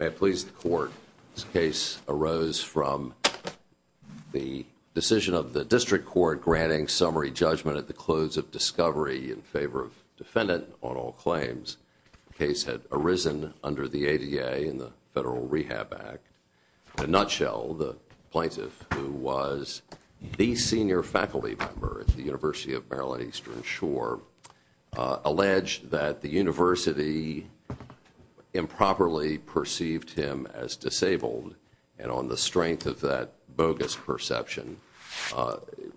May I please the Court? This case arose from the decision of the District Court granting summary judgment at the close of discovery in favor of defendant on all claims. The case had arisen under the ADA and the Federal Rehab Act. In a nutshell, the plaintiff who was the senior faculty member at the University of Maryland Eastern Shore alleged that the university improperly perceived him as disabled and on the strength of that bogus perception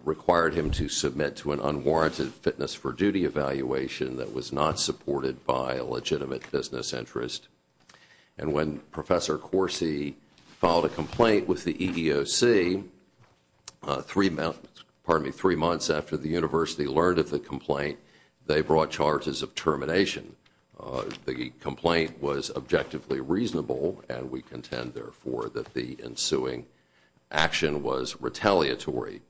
required him to submit to an unwarranted fitness for duty evaluation that was not supported by the University of Maryland Eastern Shore. And when Professor Coursey filed a complaint with the EEOC, three months after the university learned of the complaint, they brought charges of termination. The complaint was objectively reasonable and we contend, therefore, that the ensuing action was retaliatory.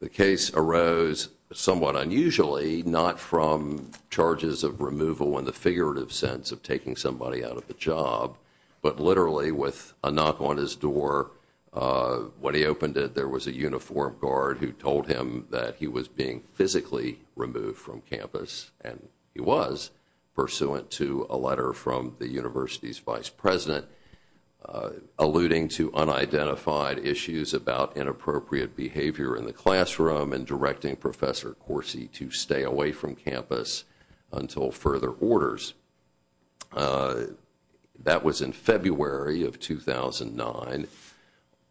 The case arose somewhat unusually, not from charges of removal in the figurative sense of taking somebody out of the job, but literally with a knock on his door. When he opened it, there was a uniformed guard who told him that he was being physically removed from campus. And he was, pursuant to a letter from the university's vice president alluding to unidentified issues about inappropriate behavior in the classroom and directing Professor Coursey to stay away from campus until further orders. That was in February of 2009.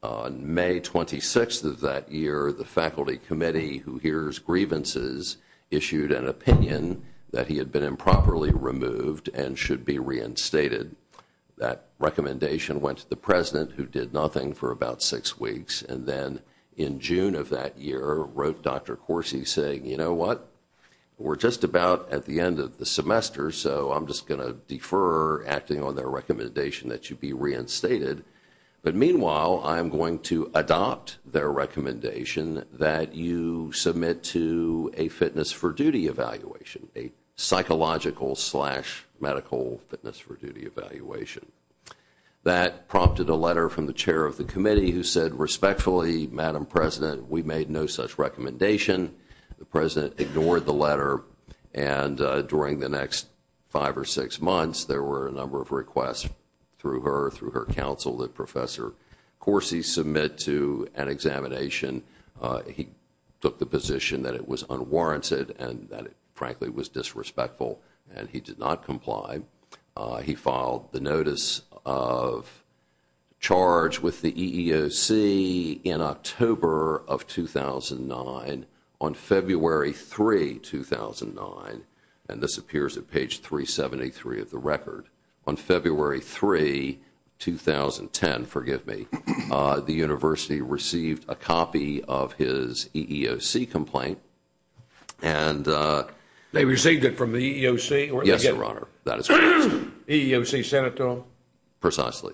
On May 26th of that year, the faculty committee, who hears grievances, issued an opinion that he had been improperly removed and should be reinstated. That recommendation went to the president, who did nothing for about six weeks. And then in June of that year, wrote Dr. Coursey saying, you know what, we're just about at the end of the semester, so I'm just going to defer acting on their recommendation that you be reinstated. But meanwhile, I'm going to adopt their recommendation that you submit to a fitness for duty evaluation, a psychological slash medical fitness for duty evaluation. That prompted a letter from the chair of the committee who said respectfully, Madam President, we made no such recommendation. The president ignored the letter, and during the next five or six months, there were a number of requests through her, through her counsel, that Professor Coursey submit to an examination. He took the position that it was unwarranted and that it, frankly, was disrespectful, and he did not comply. He filed the notice of charge with the EEOC in October of 2009. On February 3, 2009, and this appears at page 373 of the record, on February 3, 2010, forgive me, the university received a copy of the EEOC. They received it from the EEOC? Yes, Your Honor. EEOC sent it to them? Precisely.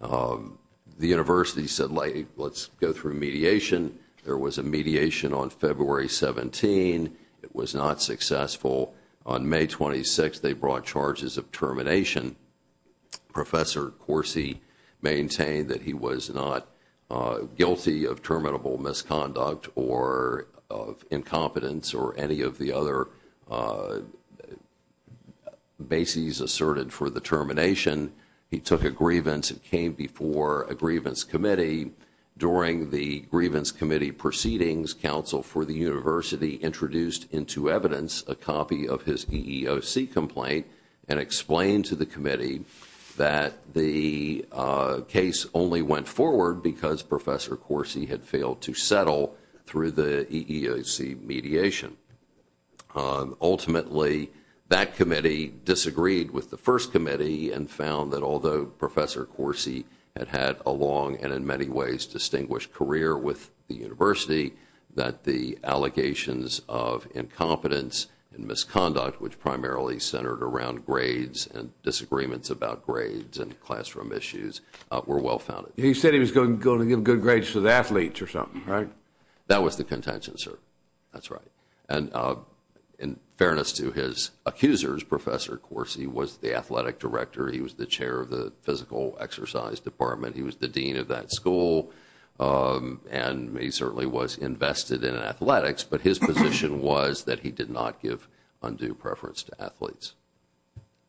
The university said, let's go through mediation. There was a mediation on February 17. It was not successful. On May 26, they brought charges of termination. Professor Coursey maintained that he was not guilty of terminable misconduct or of incompetence or any of the other bases asserted for the termination. He took a grievance and came before a grievance committee. During the grievance committee proceedings, counsel for the university introduced into evidence a copy of his EEOC complaint and explained to the committee that the case only went forward because Professor Coursey had failed to settle through the EEOC mediation. Ultimately, that committee disagreed with the first committee and found that although Professor Coursey had had a long and in many ways distinguished career with the university, that the allegations of incompetence and misconduct, which primarily centered around grades and disagreements about grades and classroom issues, were well founded. He said he was going to give good grades to the athletes or something, right? That was the contention, sir. That's right. And in fairness to his accusers, Professor Coursey was the athletic director. He was the chair of the physical exercise department. He was the dean of that school. And he certainly was invested in athletics, but his position was that he did not give undue preference to athletes.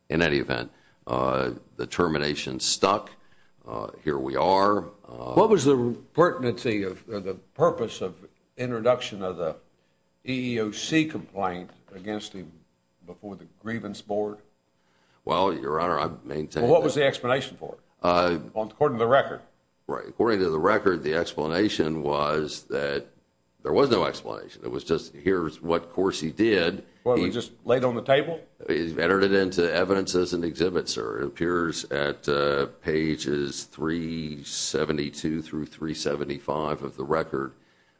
In any event, the termination stuck. Here we are. What was the purpose of the introduction of the EEOC complaint against him before the grievance board? Well, Your Honor, I maintain that… What was the explanation for it, according to the record? According to the record, the explanation was that there was no explanation. It was just, here's what Coursey did. He entered it into evidence as an exhibit, sir. It appears at pages 372 through 375 of the record.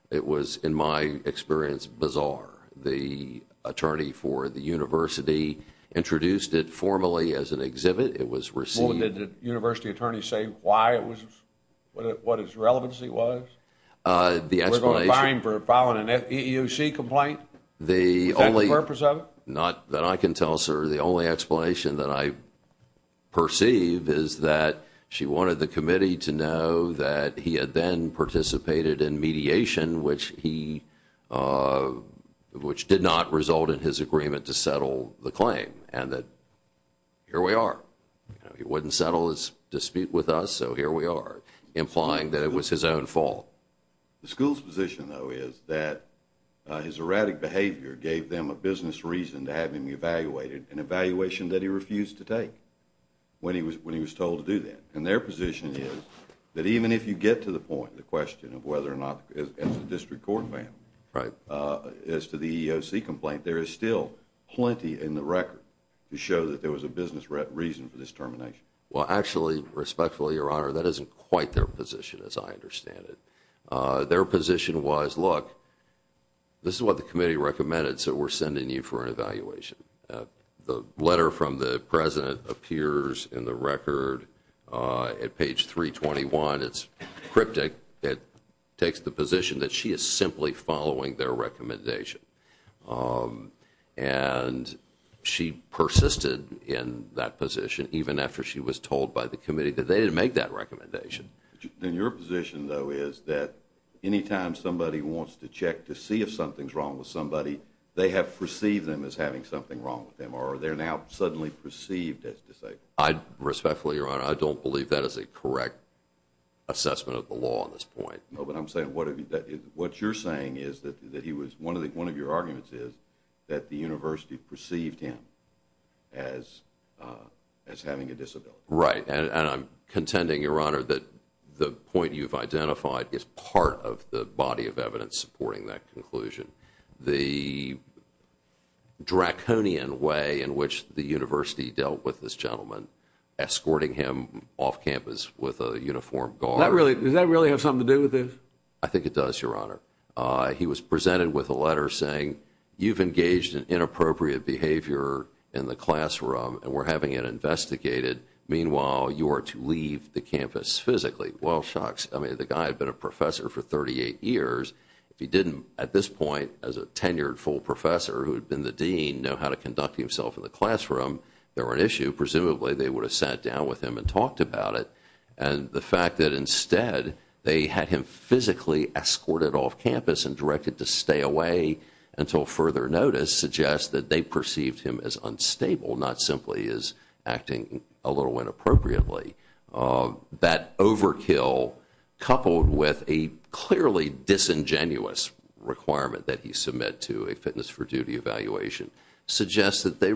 It was, in my experience, bizarre. The attorney for the university introduced it formally as an exhibit. It was received… Well, did the university attorney say why it was… what its relevancy was? The explanation… We're going to fine him for filing an EEOC complaint? Is that the purpose of it? Not that I can tell, sir. The only explanation that I perceive is that she wanted the committee to know that he had then participated in mediation, which he… which did not result in his agreement to settle the claim. And that, here we are. He wouldn't settle his dispute with us, so here we are, implying that it was his own fault. The school's position, though, is that his erratic behavior gave them a business reason to have him evaluated, an evaluation that he refused to take when he was told to do that. And their position is that even if you get to the point, the question of whether or not… as a district court family… Right. As to the EEOC complaint, there is still plenty in the record to show that there was a business reason for this termination. Well, actually, respectfully, Your Honor, that isn't quite their position as I understand it. Their position was, look, this is what the committee recommended, so we're sending you for an evaluation. The letter from the President appears in the record at page 321. It's cryptic. It takes the position that she is simply following their recommendation. And she persisted in that position even after she was told by the committee that they didn't make that recommendation. Then your position, though, is that any time somebody wants to check to see if something's wrong with somebody, they have perceived them as having something wrong with them, or they're now suddenly perceived as disabled? Respectfully, Your Honor, I don't believe that is a correct assessment of the law at this point. No, but I'm saying what you're saying is that he was… one of your arguments is that the university perceived him as having a disability. Right. And I'm contending, Your Honor, that the point you've identified is part of the body of evidence supporting that conclusion. The draconian way in which the university dealt with this gentleman, escorting him off campus with a uniformed guard… Does that really have something to do with this? I think it does, Your Honor. He was presented with a letter saying, you've engaged in inappropriate behavior in the classroom, and we're having it investigated. Meanwhile, you are to leave the campus physically. Well, shucks. I mean, the guy had been a professor for 38 years. If he didn't, at this point, as a tenured full professor who had been the dean, know how to conduct himself in the classroom, there were an issue. Presumably, they would have sat down with him and talked about it. And the fact that, instead, they had him physically escorted off campus and directed to stay away until further notice suggests that they perceived him as unstable, not simply as acting a little inappropriately. That overkill, coupled with a clearly disingenuous requirement that he submit to a fitness for duty evaluation, suggests that they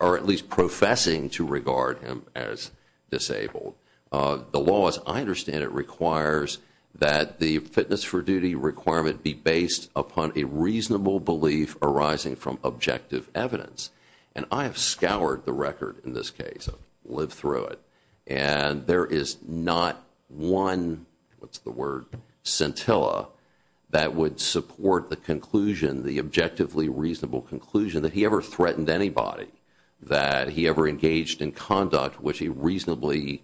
are at least professing to regard him as disabled. The law, as I understand it, requires that the fitness for duty requirement be based upon a reasonable belief arising from objective evidence. And I have scoured the record in this case. I've lived through it. And there is not one, what's the word, scintilla that would support the conclusion, the objectively reasonable conclusion, that he ever threatened anybody, that he ever engaged in conduct which he reasonably,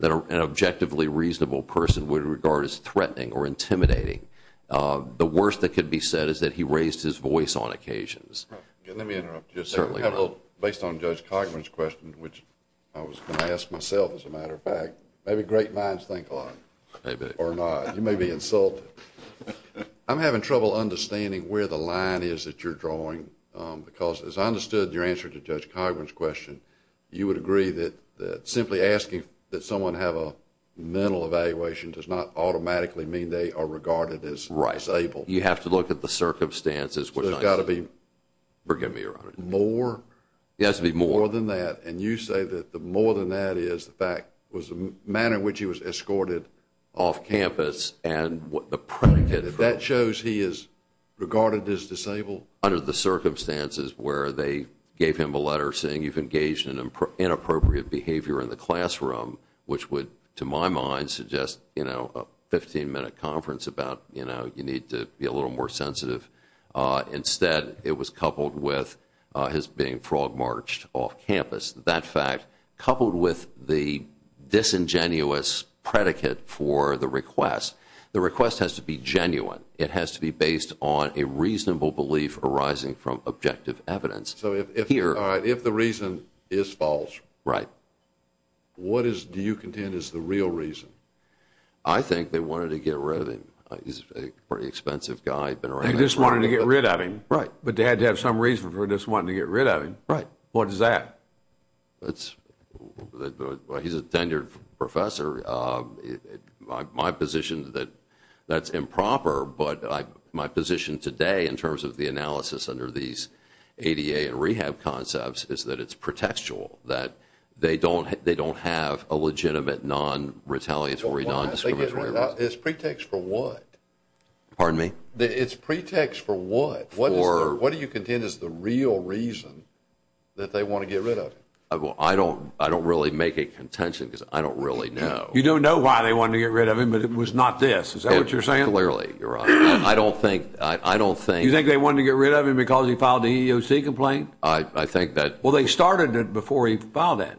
that an objectively reasonable person would regard as threatening or intimidating. The worst that could be said is that he raised his voice on occasions. Let me interrupt you. Based on Judge Cogman's question, which I was going to ask myself as a matter of fact, maybe great minds think a lot, or not. You may be insulted. I'm having trouble understanding where the line is that you're drawing because, as I understood your answer to Judge Cogman's question, you would agree that simply asking that someone have a mental evaluation does not automatically mean they are regarded as disabled. You have to look at the circumstances. So it's got to be more? It has to be more. More than that. And you say that the more than that is the fact, was the manner in which he was escorted off campus and the predicate. That shows he is regarded as disabled? Well, under the circumstances where they gave him a letter saying you've engaged in inappropriate behavior in the classroom, which would, to my mind, suggest a 15-minute conference about you need to be a little more sensitive. Instead, it was coupled with his being frog-marched off campus. Coupled with the disingenuous predicate for the request. The request has to be genuine. It has to be based on a reasonable belief arising from objective evidence. So if the reason is false, what do you contend is the real reason? I think they wanted to get rid of him. He's a pretty expensive guy. They just wanted to get rid of him. Right. But they had to have some reason for just wanting to get rid of him. Right. What is that? He's a tenured professor. My position is that that's improper, but my position today in terms of the analysis under these ADA and rehab concepts is that it's pretextual. That they don't have a legitimate non-retaliatory, non-discriminatory request. It's pretext for what? Pardon me? It's pretext for what? What do you contend is the real reason that they want to get rid of him? I don't really make a contention because I don't really know. You don't know why they wanted to get rid of him, but it was not this. Is that what you're saying? Clearly, you're right. I don't think... You think they wanted to get rid of him because he filed the EEOC complaint? I think that... Well, they started it before he filed it.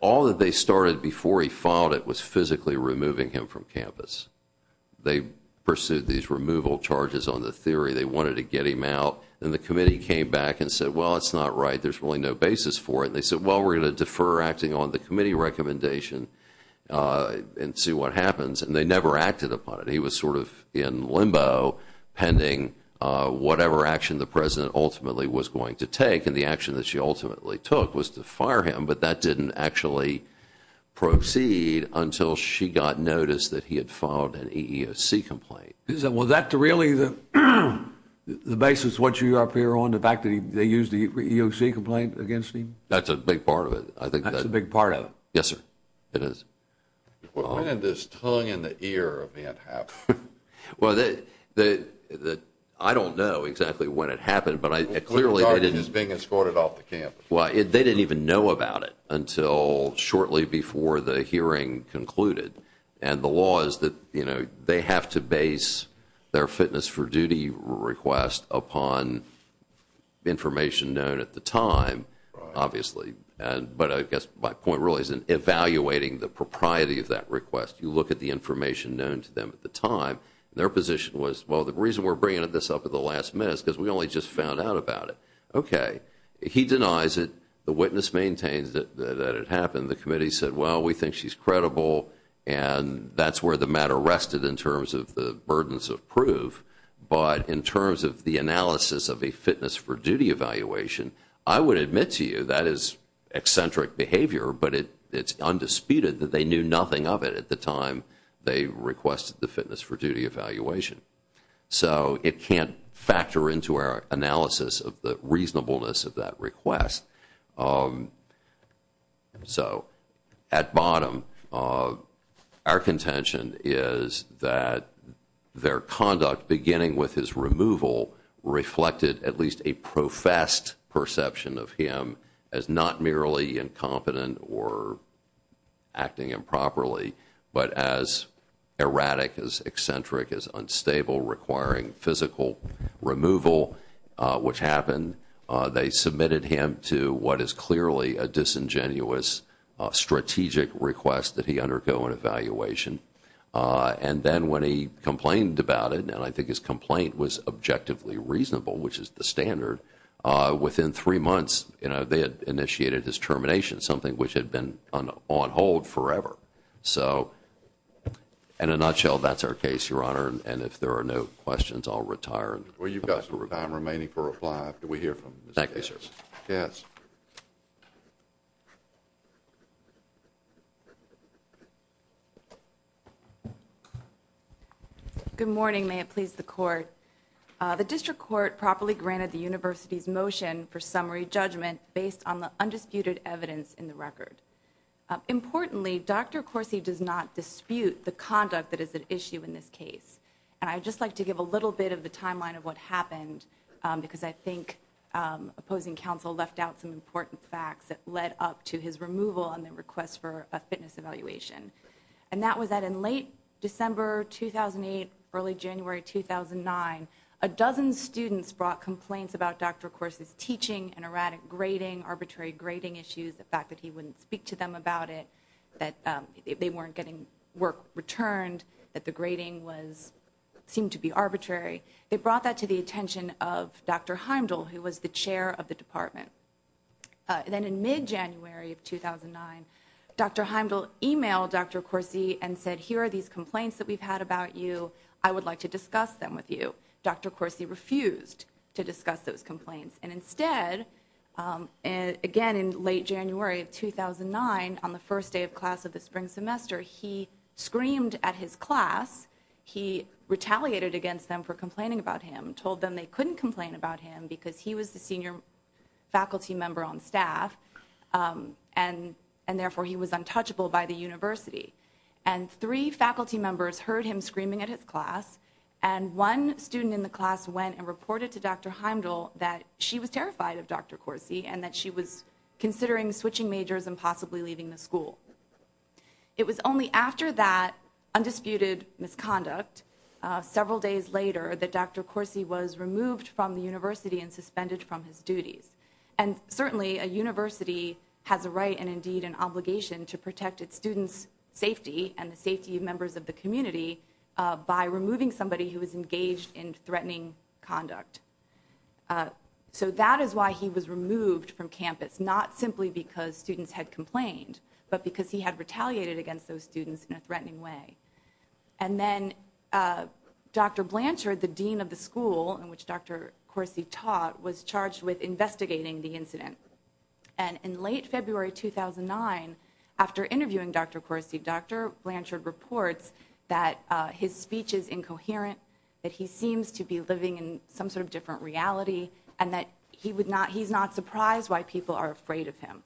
All that they started before he filed it was physically removing him from campus. They pursued these removal charges on the theory they wanted to get him out. And the committee came back and said, well, it's not right. There's really no basis for it. And they said, well, we're going to defer acting on the committee recommendation and see what happens. And they never acted upon it. He was sort of in limbo pending whatever action the president ultimately was going to take. And the action that she ultimately took was to fire him. But that didn't actually proceed until she got notice that he had filed an EEOC complaint. Was that really the basis of what you're up here on? The fact that they used the EEOC complaint against him? That's a big part of it. That's a big part of it. Yes, sir. It is. When did this tongue in the ear event happen? Well, I don't know exactly when it happened, but clearly... The target is being escorted off the campus. Well, they didn't even know about it until shortly before the hearing concluded. And the law is that they have to base their fitness for duty request upon information known at the time, obviously. But I guess my point really is in evaluating the propriety of that request. You look at the information known to them at the time. Their position was, well, the reason we're bringing this up at the last minute is because we only just found out about it. Okay. He denies it. The witness maintains that it happened. The committee said, well, we think she's credible, and that's where the matter rested in terms of the burdens of proof. But in terms of the analysis of a fitness for duty evaluation, I would admit to you that is eccentric behavior. But it's undisputed that they knew nothing of it at the time they requested the fitness for duty evaluation. So it can't factor into our analysis of the reasonableness of that request. So, at bottom, our contention is that their conduct, beginning with his removal, reflected at least a professed perception of him as not merely incompetent or acting improperly, but as erratic, as eccentric, as unstable, requiring physical removal, which happened. They submitted him to what is clearly a disingenuous strategic request that he undergo an evaluation. And then when he complained about it, and I think his complaint was objectively reasonable, which is the standard, within three months, they had initiated his termination, something which had been on hold forever. So, in a nutshell, that's our case, Your Honor, and if there are no questions, I'll retire. Well, you've got some time remaining for reply after we hear from Ms. Casers. Thank you, sir. Yes. Good morning. May it please the Court. The District Court properly granted the University's motion for summary judgment based on the undisputed evidence in the record. Importantly, Dr. Corsi does not dispute the conduct that is at issue in this case. And I'd just like to give a little bit of the timeline of what happened, because I think opposing counsel left out some important facts that led up to his removal on the request for a fitness evaluation. And that was that in late December 2008, early January 2009, a dozen students brought complaints about Dr. Corsi's teaching and erratic grading, arbitrary grading issues, the fact that he wouldn't speak to them about it, that they weren't getting work returned, that the grading seemed to be arbitrary. They brought that to the attention of Dr. Heimdall, who was the chair of the department. Then in mid-January of 2009, Dr. Heimdall emailed Dr. Corsi and said, Here are these complaints that we've had about you. I would like to discuss them with you. Dr. Corsi refused to discuss those complaints. And instead, again in late January of 2009, on the first day of class of the spring semester, he screamed at his class. He retaliated against them for complaining about him, told them they couldn't complain about him because he was the senior faculty member on staff, and therefore he was untouchable by the university. And three faculty members heard him screaming at his class, and one student in the class went and reported to Dr. Heimdall that she was terrified of Dr. Corsi and that she was considering switching majors and possibly leaving the school. It was only after that undisputed misconduct, several days later, that Dr. Corsi was removed from the university and suspended from his duties. And certainly a university has a right and indeed an obligation to protect its students' safety and the safety of members of the community by removing somebody who is engaged in threatening conduct. So that is why he was removed from campus, not simply because students had complained, but because he had retaliated against those students in a threatening way. And then Dr. Blanchard, the dean of the school in which Dr. Corsi taught, was charged with investigating the incident. And in late February 2009, after interviewing Dr. Corsi, Dr. Blanchard reports that his speech is incoherent, that he seems to be living in some sort of different reality, and that he's not surprised why people are afraid of him.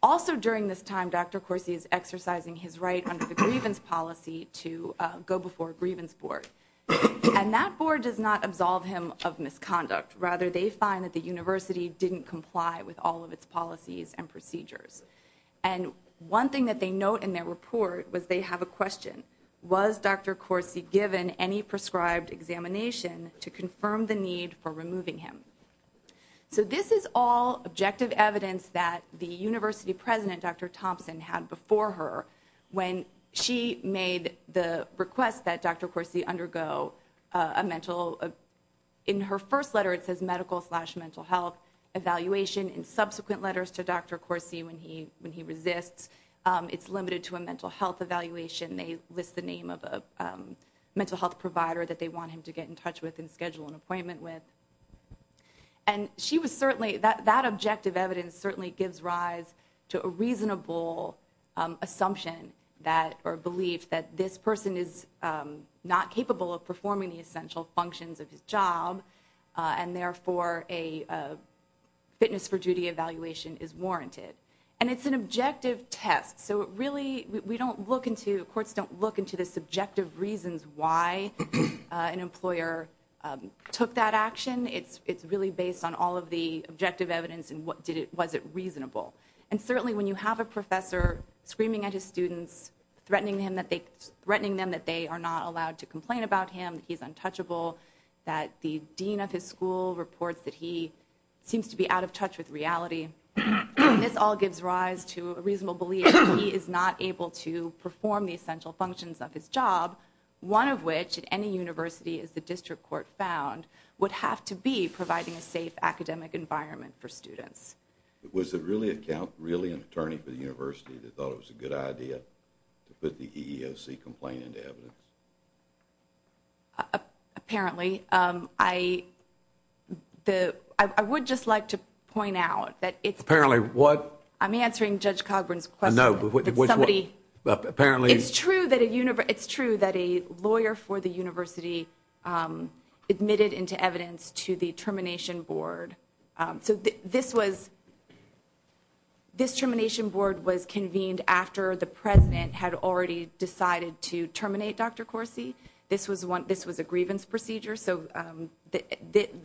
Also during this time, Dr. Corsi is exercising his right under the grievance policy to go before a grievance board. And that board does not absolve him of misconduct. Rather, they find that the university didn't comply with all of its policies and procedures. And one thing that they note in their report was they have a question. Was Dr. Corsi given any prescribed examination to confirm the need for removing him? So this is all objective evidence that the university president, Dr. Thompson, had before her when she made the request that Dr. Corsi undergo a mental, in her first letter it says medical slash mental health evaluation. In subsequent letters to Dr. Corsi when he resists, it's limited to a mental health evaluation. They list the name of a mental health provider that they want him to get in touch with and schedule an appointment with. And she was certainly, that objective evidence certainly gives rise to a reasonable assumption that, or belief, that this person is not capable of performing the essential functions of his job and therefore a fitness for duty evaluation is warranted. And it's an objective test. So it really, we don't look into, courts don't look into the subjective reasons why an employer took that action. It's really based on all of the objective evidence and was it reasonable. And certainly when you have a professor screaming at his students, threatening them that they are not allowed to complain about him, that he's untouchable, that the dean of his school reports that he seems to be out of touch with reality. This all gives rise to a reasonable belief that he is not able to perform the essential functions of his job. One of which, at any university, as the district court found, would have to be providing a safe academic environment for students. Was it really an attorney for the university that thought it was a good idea to put the EEOC complaint into evidence? Apparently. I would just like to point out that it's true. Apparently what? I'm answering Judge Cogburn's question. Apparently. It's true that a lawyer for the university admitted into evidence to the termination board. So this was, this termination board was convened after the president had already decided to terminate Dr. Corsi. This was a grievance procedure, so the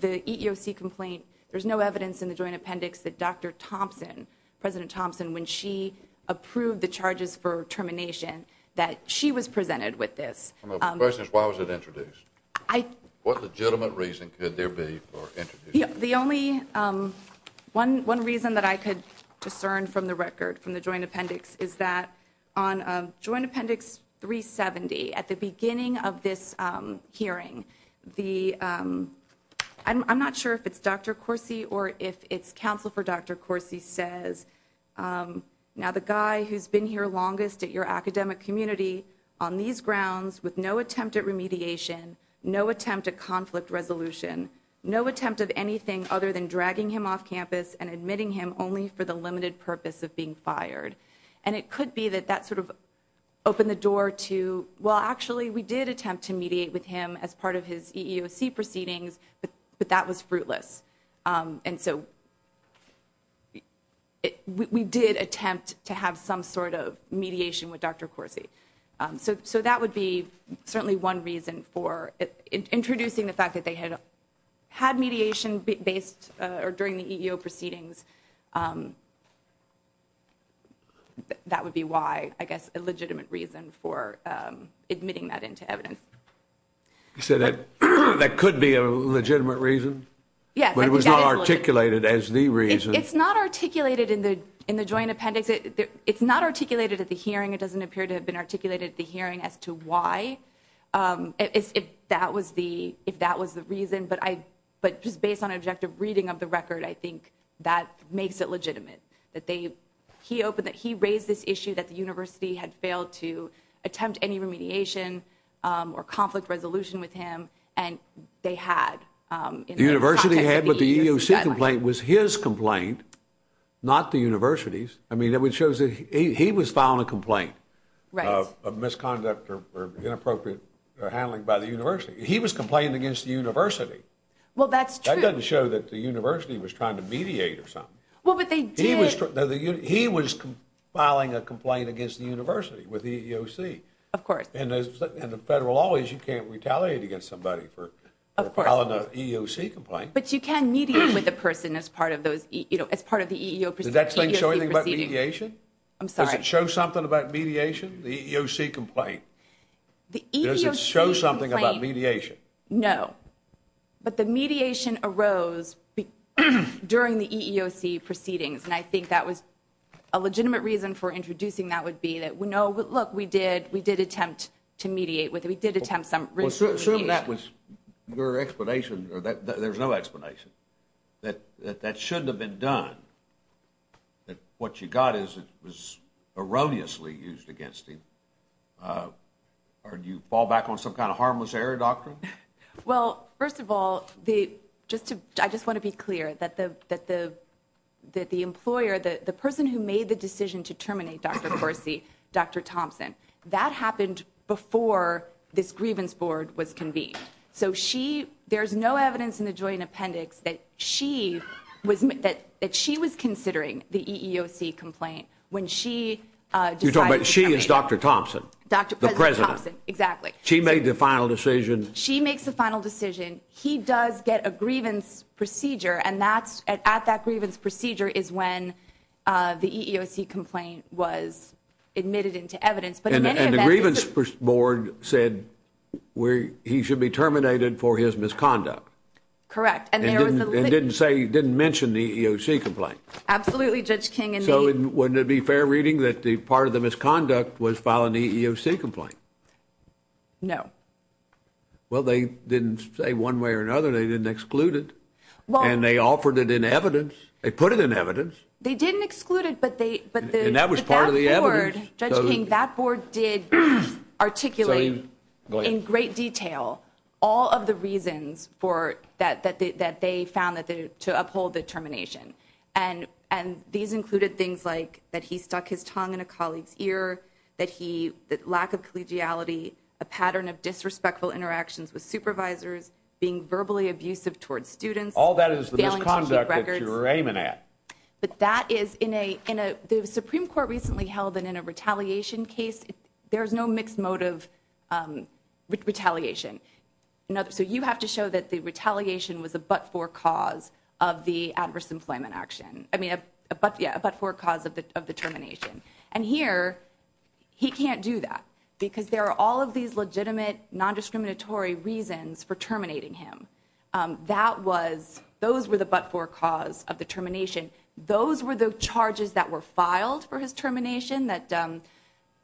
EEOC complaint, there's no evidence in the joint appendix that Dr. Thompson, President Thompson, when she approved the charges for termination, that she was presented with this. My question is why was it introduced? What legitimate reason could there be for introducing it? The only one reason that I could discern from the record, from the joint appendix, is that on joint appendix 370, at the beginning of this hearing, the, I'm not sure if it's Dr. Corsi or if it's counsel for Dr. Corsi says, now the guy who's been here longest at your academic community on these grounds with no attempt at remediation, no attempt at conflict resolution, no attempt of anything other than dragging him off campus and admitting him only for the limited purpose of being fired. And it could be that that sort of opened the door to, well actually we did attempt to mediate with him as part of his EEOC proceedings, but that was fruitless. And so we did attempt to have some sort of mediation with Dr. Corsi. So that would be certainly one reason for, introducing the fact that they had mediation based, or during the EEOC proceedings, that would be why, I guess a legitimate reason for admitting that into evidence. You said that could be a legitimate reason? Yes. But it was not articulated as the reason. It's not articulated in the joint appendix. It's not articulated at the hearing. It doesn't appear to have been articulated at the hearing as to why. If that was the reason. But just based on an objective reading of the record, I think that makes it legitimate. He raised this issue that the university had failed to attempt any remediation or conflict resolution with him, and they had. The university had, but the EEOC complaint was his complaint, not the university's. I mean it shows that he was filing a complaint. Of misconduct or inappropriate handling by the university. He was complaining against the university. Well, that's true. That doesn't show that the university was trying to mediate or something. Well, but they did. He was filing a complaint against the university with the EEOC. Of course. And the federal law is you can't retaliate against somebody for filing an EEOC complaint. But you can mediate with a person as part of the EEOC proceedings. Does that show anything about mediation? I'm sorry. Does it show something about mediation, the EEOC complaint? Does it show something about mediation? No. But the mediation arose during the EEOC proceedings, and I think that was a legitimate reason for introducing that would be that we know, look, we did attempt to mediate with him. We did attempt some remediation. Well, assume that was your explanation. There's no explanation. That shouldn't have been done. That what you got is it was erroneously used against him. Or do you fall back on some kind of harmless error doctrine? Well, first of all, the just to I just want to be clear that the that the that the employer, the person who made the decision to terminate Dr. Percy, Dr. Thompson, that happened before this grievance board was convened. So she there's no evidence in the joint appendix that she was that that she was considering the EEOC complaint when she. But she is Dr. Thompson, Dr. The president. Exactly. She made the final decision. She makes the final decision. He does get a grievance procedure. And that's at that grievance procedure is when the EEOC complaint was admitted into evidence. And the grievance board said where he should be terminated for his misconduct. Correct. And they didn't say didn't mention the EEOC complaint. Absolutely. Judge King. So wouldn't it be fair reading that the part of the misconduct was following the EEOC complaint? No. Well, they didn't say one way or another. They didn't exclude it. And they offered it in evidence. They put it in evidence. They didn't exclude it, but they. And that was part of the evidence. Judge King, that board did articulate in great detail all of the reasons for that, that they found that to uphold the termination. And and these included things like that. He stuck his tongue in a colleague's ear that he that lack of collegiality, a pattern of disrespectful interactions with supervisors being verbally abusive towards students. All that is the misconduct that you're aiming at. But that is in a in a the Supreme Court recently held that in a retaliation case. There is no mixed motive retaliation. So you have to show that the retaliation was a but for cause of the adverse employment action. I mean, but yeah, but for cause of the termination. And here he can't do that because there are all of these legitimate nondiscriminatory reasons for terminating him. That was those were the but for cause of the termination. Those were the charges that were filed for his termination that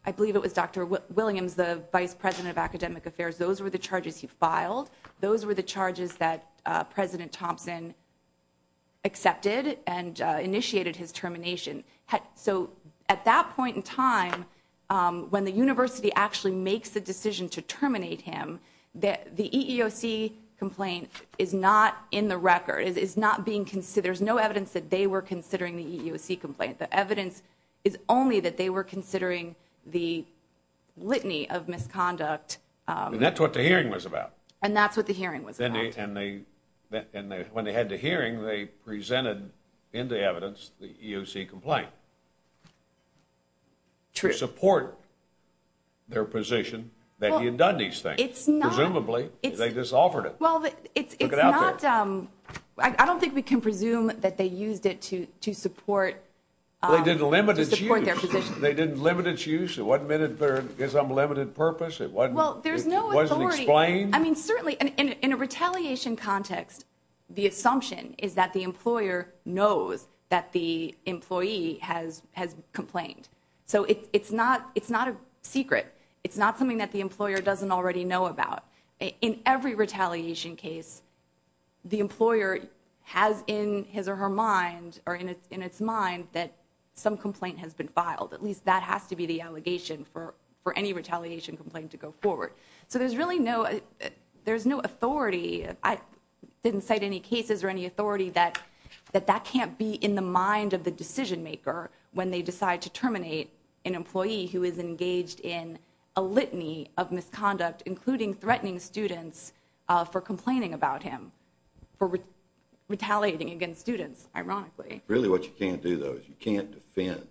I believe it was Dr. Williams, the vice president of academic affairs. Those were the charges he filed. Those were the charges that President Thompson. Accepted and initiated his termination. So at that point in time, when the university actually makes the decision to terminate him, that the EEOC complaint is not in the record is not being considered. There's no evidence that they were considering the EEOC complaint. The evidence is only that they were considering the litany of misconduct. And that's what the hearing was about. And that's what the hearing was. And when they had the hearing, they presented into evidence the EEOC complaint. To support their position that he had done these things. Presumably they just offered it. Well, it's not. I don't think we can presume that they used it to to support. They didn't limit their position. They didn't limit its use. It wasn't minute. There's unlimited purpose. It wasn't. Well, there's no. Explain. I mean, certainly in a retaliation context, the assumption is that the employer knows that the employee has has complained. So it's not it's not a secret. It's not something that the employer doesn't already know about. In every retaliation case. The employer has in his or her mind or in its in its mind that some complaint has been filed. At least that has to be the allegation for for any retaliation complaint to go forward. So there's really no there's no authority. I didn't cite any cases or any authority that that that can't be in the mind of the decision maker when they decide to terminate an employee who is engaged in a litany of misconduct, including threatening students for complaining about him for retaliating against students. Ironically, really what you can't do, though, is you can't defend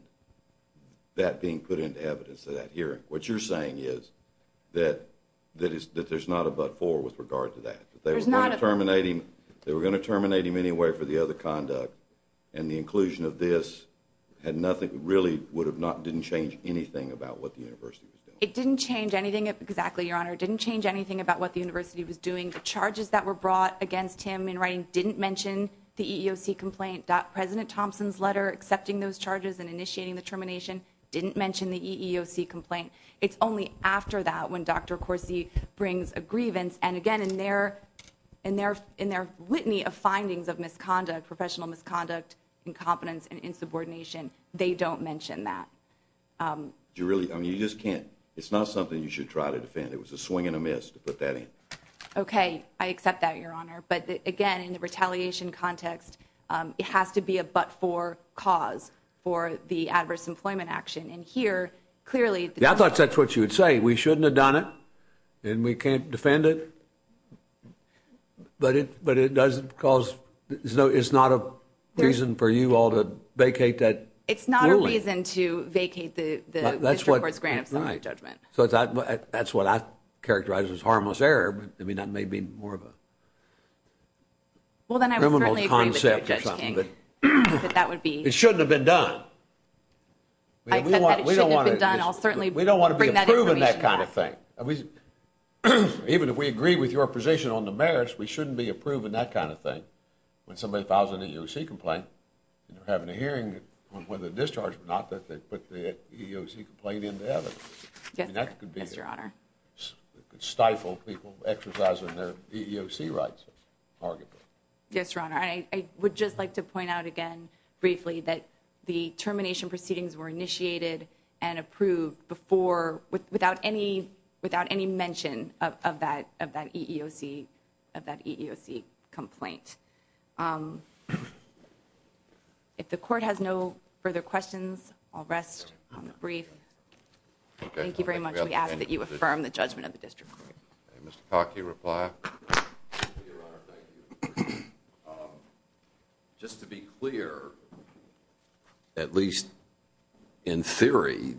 that being put into evidence that here, what you're saying is that that is that there's not a but for with regard to that. There's not a terminating. They were going to terminate him anyway for the other conduct. And the inclusion of this had nothing really would have not didn't change anything about what the university. It didn't change anything. Exactly. Your honor didn't change anything about what the university was doing. The charges that were brought against him in writing didn't mention the EOC complaint that President Thompson's letter accepting those charges and initiating the termination didn't mention the EEOC complaint. It's only after that when Dr. Corsi brings a grievance. And again, in their in their in their litany of findings of misconduct, professional misconduct, incompetence and insubordination, they don't mention that you really I mean, you just can't. It's not something you should try to defend. It was a swing and a miss to put that in. OK, I accept that, your honor. But again, in the retaliation context, it has to be a but for cause for the adverse employment action. And here, clearly, I thought that's what you would say. We shouldn't have done it and we can't defend it. But it but it doesn't because there's no it's not a reason for you all to vacate that. It's not a reason to vacate the. That's what it's grand. So my judgment. So that's what I characterize as harmless error. I mean, that may be more of a. Well, then I'm going to accept that that would be it shouldn't have been done. I don't want to be done. I'll certainly we don't want to bring that kind of thing. Even if we agree with your position on the merits, we shouldn't be approving that kind of thing. When somebody files an EOC complaint, you're having a hearing when the discharge, not that they put the EOC complaint in there. That could be your honor. Stifle people exercising their EOC rights. Yes, your honor. I would just like to point out again briefly that the termination proceedings were initiated and approved before without any without any mention of that of that EEOC of that EEOC complaint. If the court has no further questions, I'll rest on the brief. Thank you very much. We ask that you affirm the judgment of the district. Mr. Cocke, you reply. Just to be clear, at least in theory,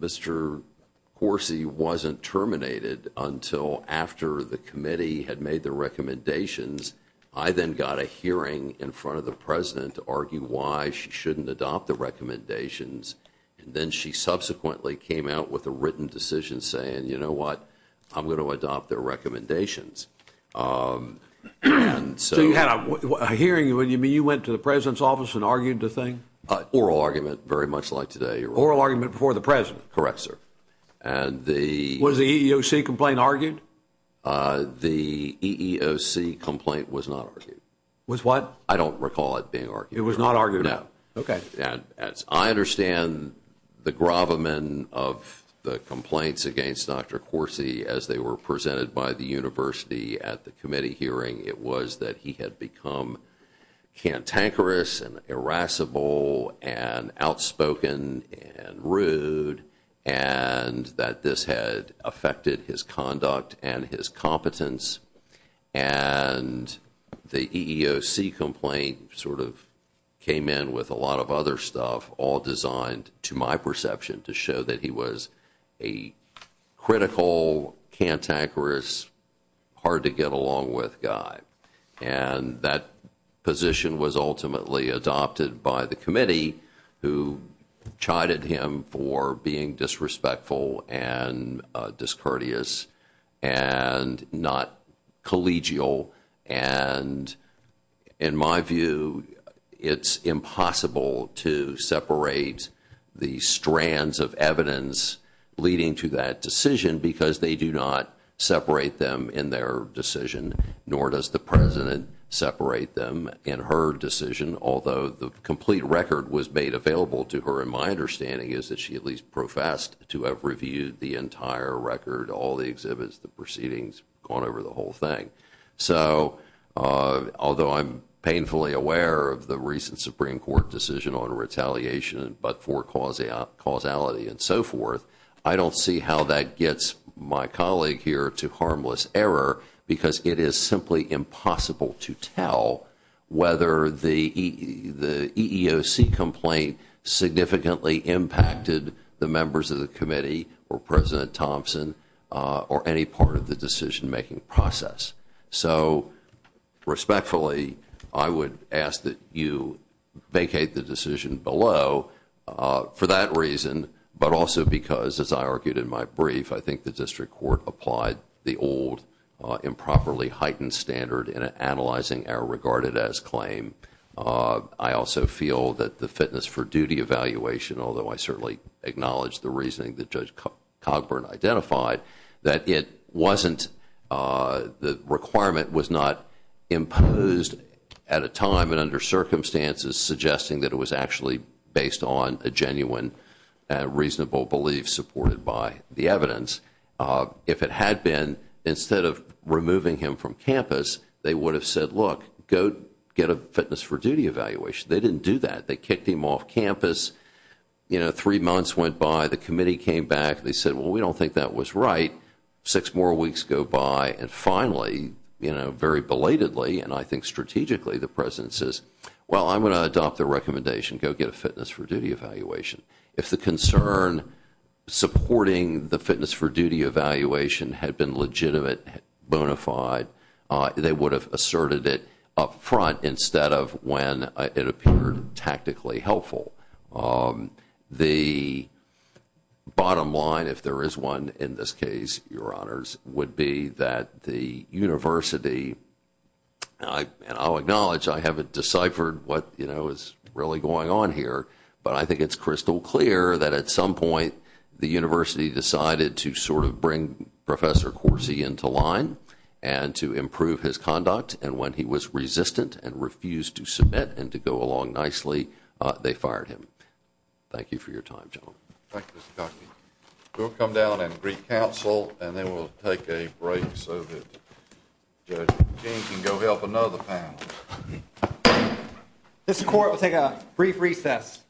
Mr. Horsey wasn't terminated until after the committee had made the recommendations. I then got a hearing in front of the president to argue why she shouldn't adopt the recommendations. Then she subsequently came out with a written decision saying, you know what, I'm going to adopt their recommendations. So you had a hearing. You went to the president's office and argued the thing? Oral argument, very much like today. Oral argument before the president? Correct, sir. Was the EEOC complaint argued? The EEOC complaint was not argued. Was what? I don't recall it being argued. It was not argued? No. Okay. I understand the gravamen of the complaints against Dr. Horsey as they were presented by the university at the committee hearing. It was that he had become cantankerous and irascible and outspoken and rude and that this had affected his conduct and his competence. And the EEOC complaint sort of came in with a lot of other stuff all designed to my perception to show that he was a critical, cantankerous, hard-to-get-along-with guy. And that position was ultimately adopted by the committee who chided him for being disrespectful and discourteous and not collegial. And in my view, it's impossible to separate the strands of evidence leading to that decision because they do not separate them in their decision, nor does the president separate them in her decision, although the complete record was made available to her, and my understanding is that she at least professed to have reviewed the entire record, all the exhibits, the proceedings, gone over the whole thing. So although I'm painfully aware of the recent Supreme Court decision on retaliation but for causality and so forth, I don't see how that gets my colleague here to harmless error because it is simply impossible to tell whether the EEOC complaint significantly impacted the members of the committee or President Thompson or any part of the decision-making process. So respectfully, I would ask that you vacate the decision below for that reason but also because, as I argued in my brief, I think the district court applied the old improperly heightened standard in analyzing our regarded as claim. I also feel that the fitness for duty evaluation, although I certainly acknowledge the reasoning that Judge Cogburn identified, that it wasn't the requirement was not imposed at a time and under circumstances suggesting that it was actually based on a genuine reasonable belief supported by the evidence. If it had been, instead of removing him from campus, they would have said, look, go get a fitness for duty evaluation. They didn't do that. They kicked him off campus. Three months went by. The committee came back. They said, well, we don't think that was right. Six more weeks go by and finally, very belatedly and I think strategically, the President says, well, I'm going to adopt the recommendation. Go get a fitness for duty evaluation. If the concern supporting the fitness for duty evaluation had been legitimate, bonafide, they would have asserted it up front instead of when it appeared tactically helpful. The bottom line, if there is one in this case, Your Honors, would be that the university, and I'll acknowledge, I haven't deciphered what is really going on here, but I think it's crystal clear that at some point the university decided to sort of bring Professor Corsi into line and to improve his conduct. And when he was resistant and refused to submit and to go along nicely, they fired him. Thank you for your time, gentlemen. Thank you, Mr. Cockney. We'll come down and greet counsel and then we'll take a break so that Judge King can go help another panel. This court will take a brief recess.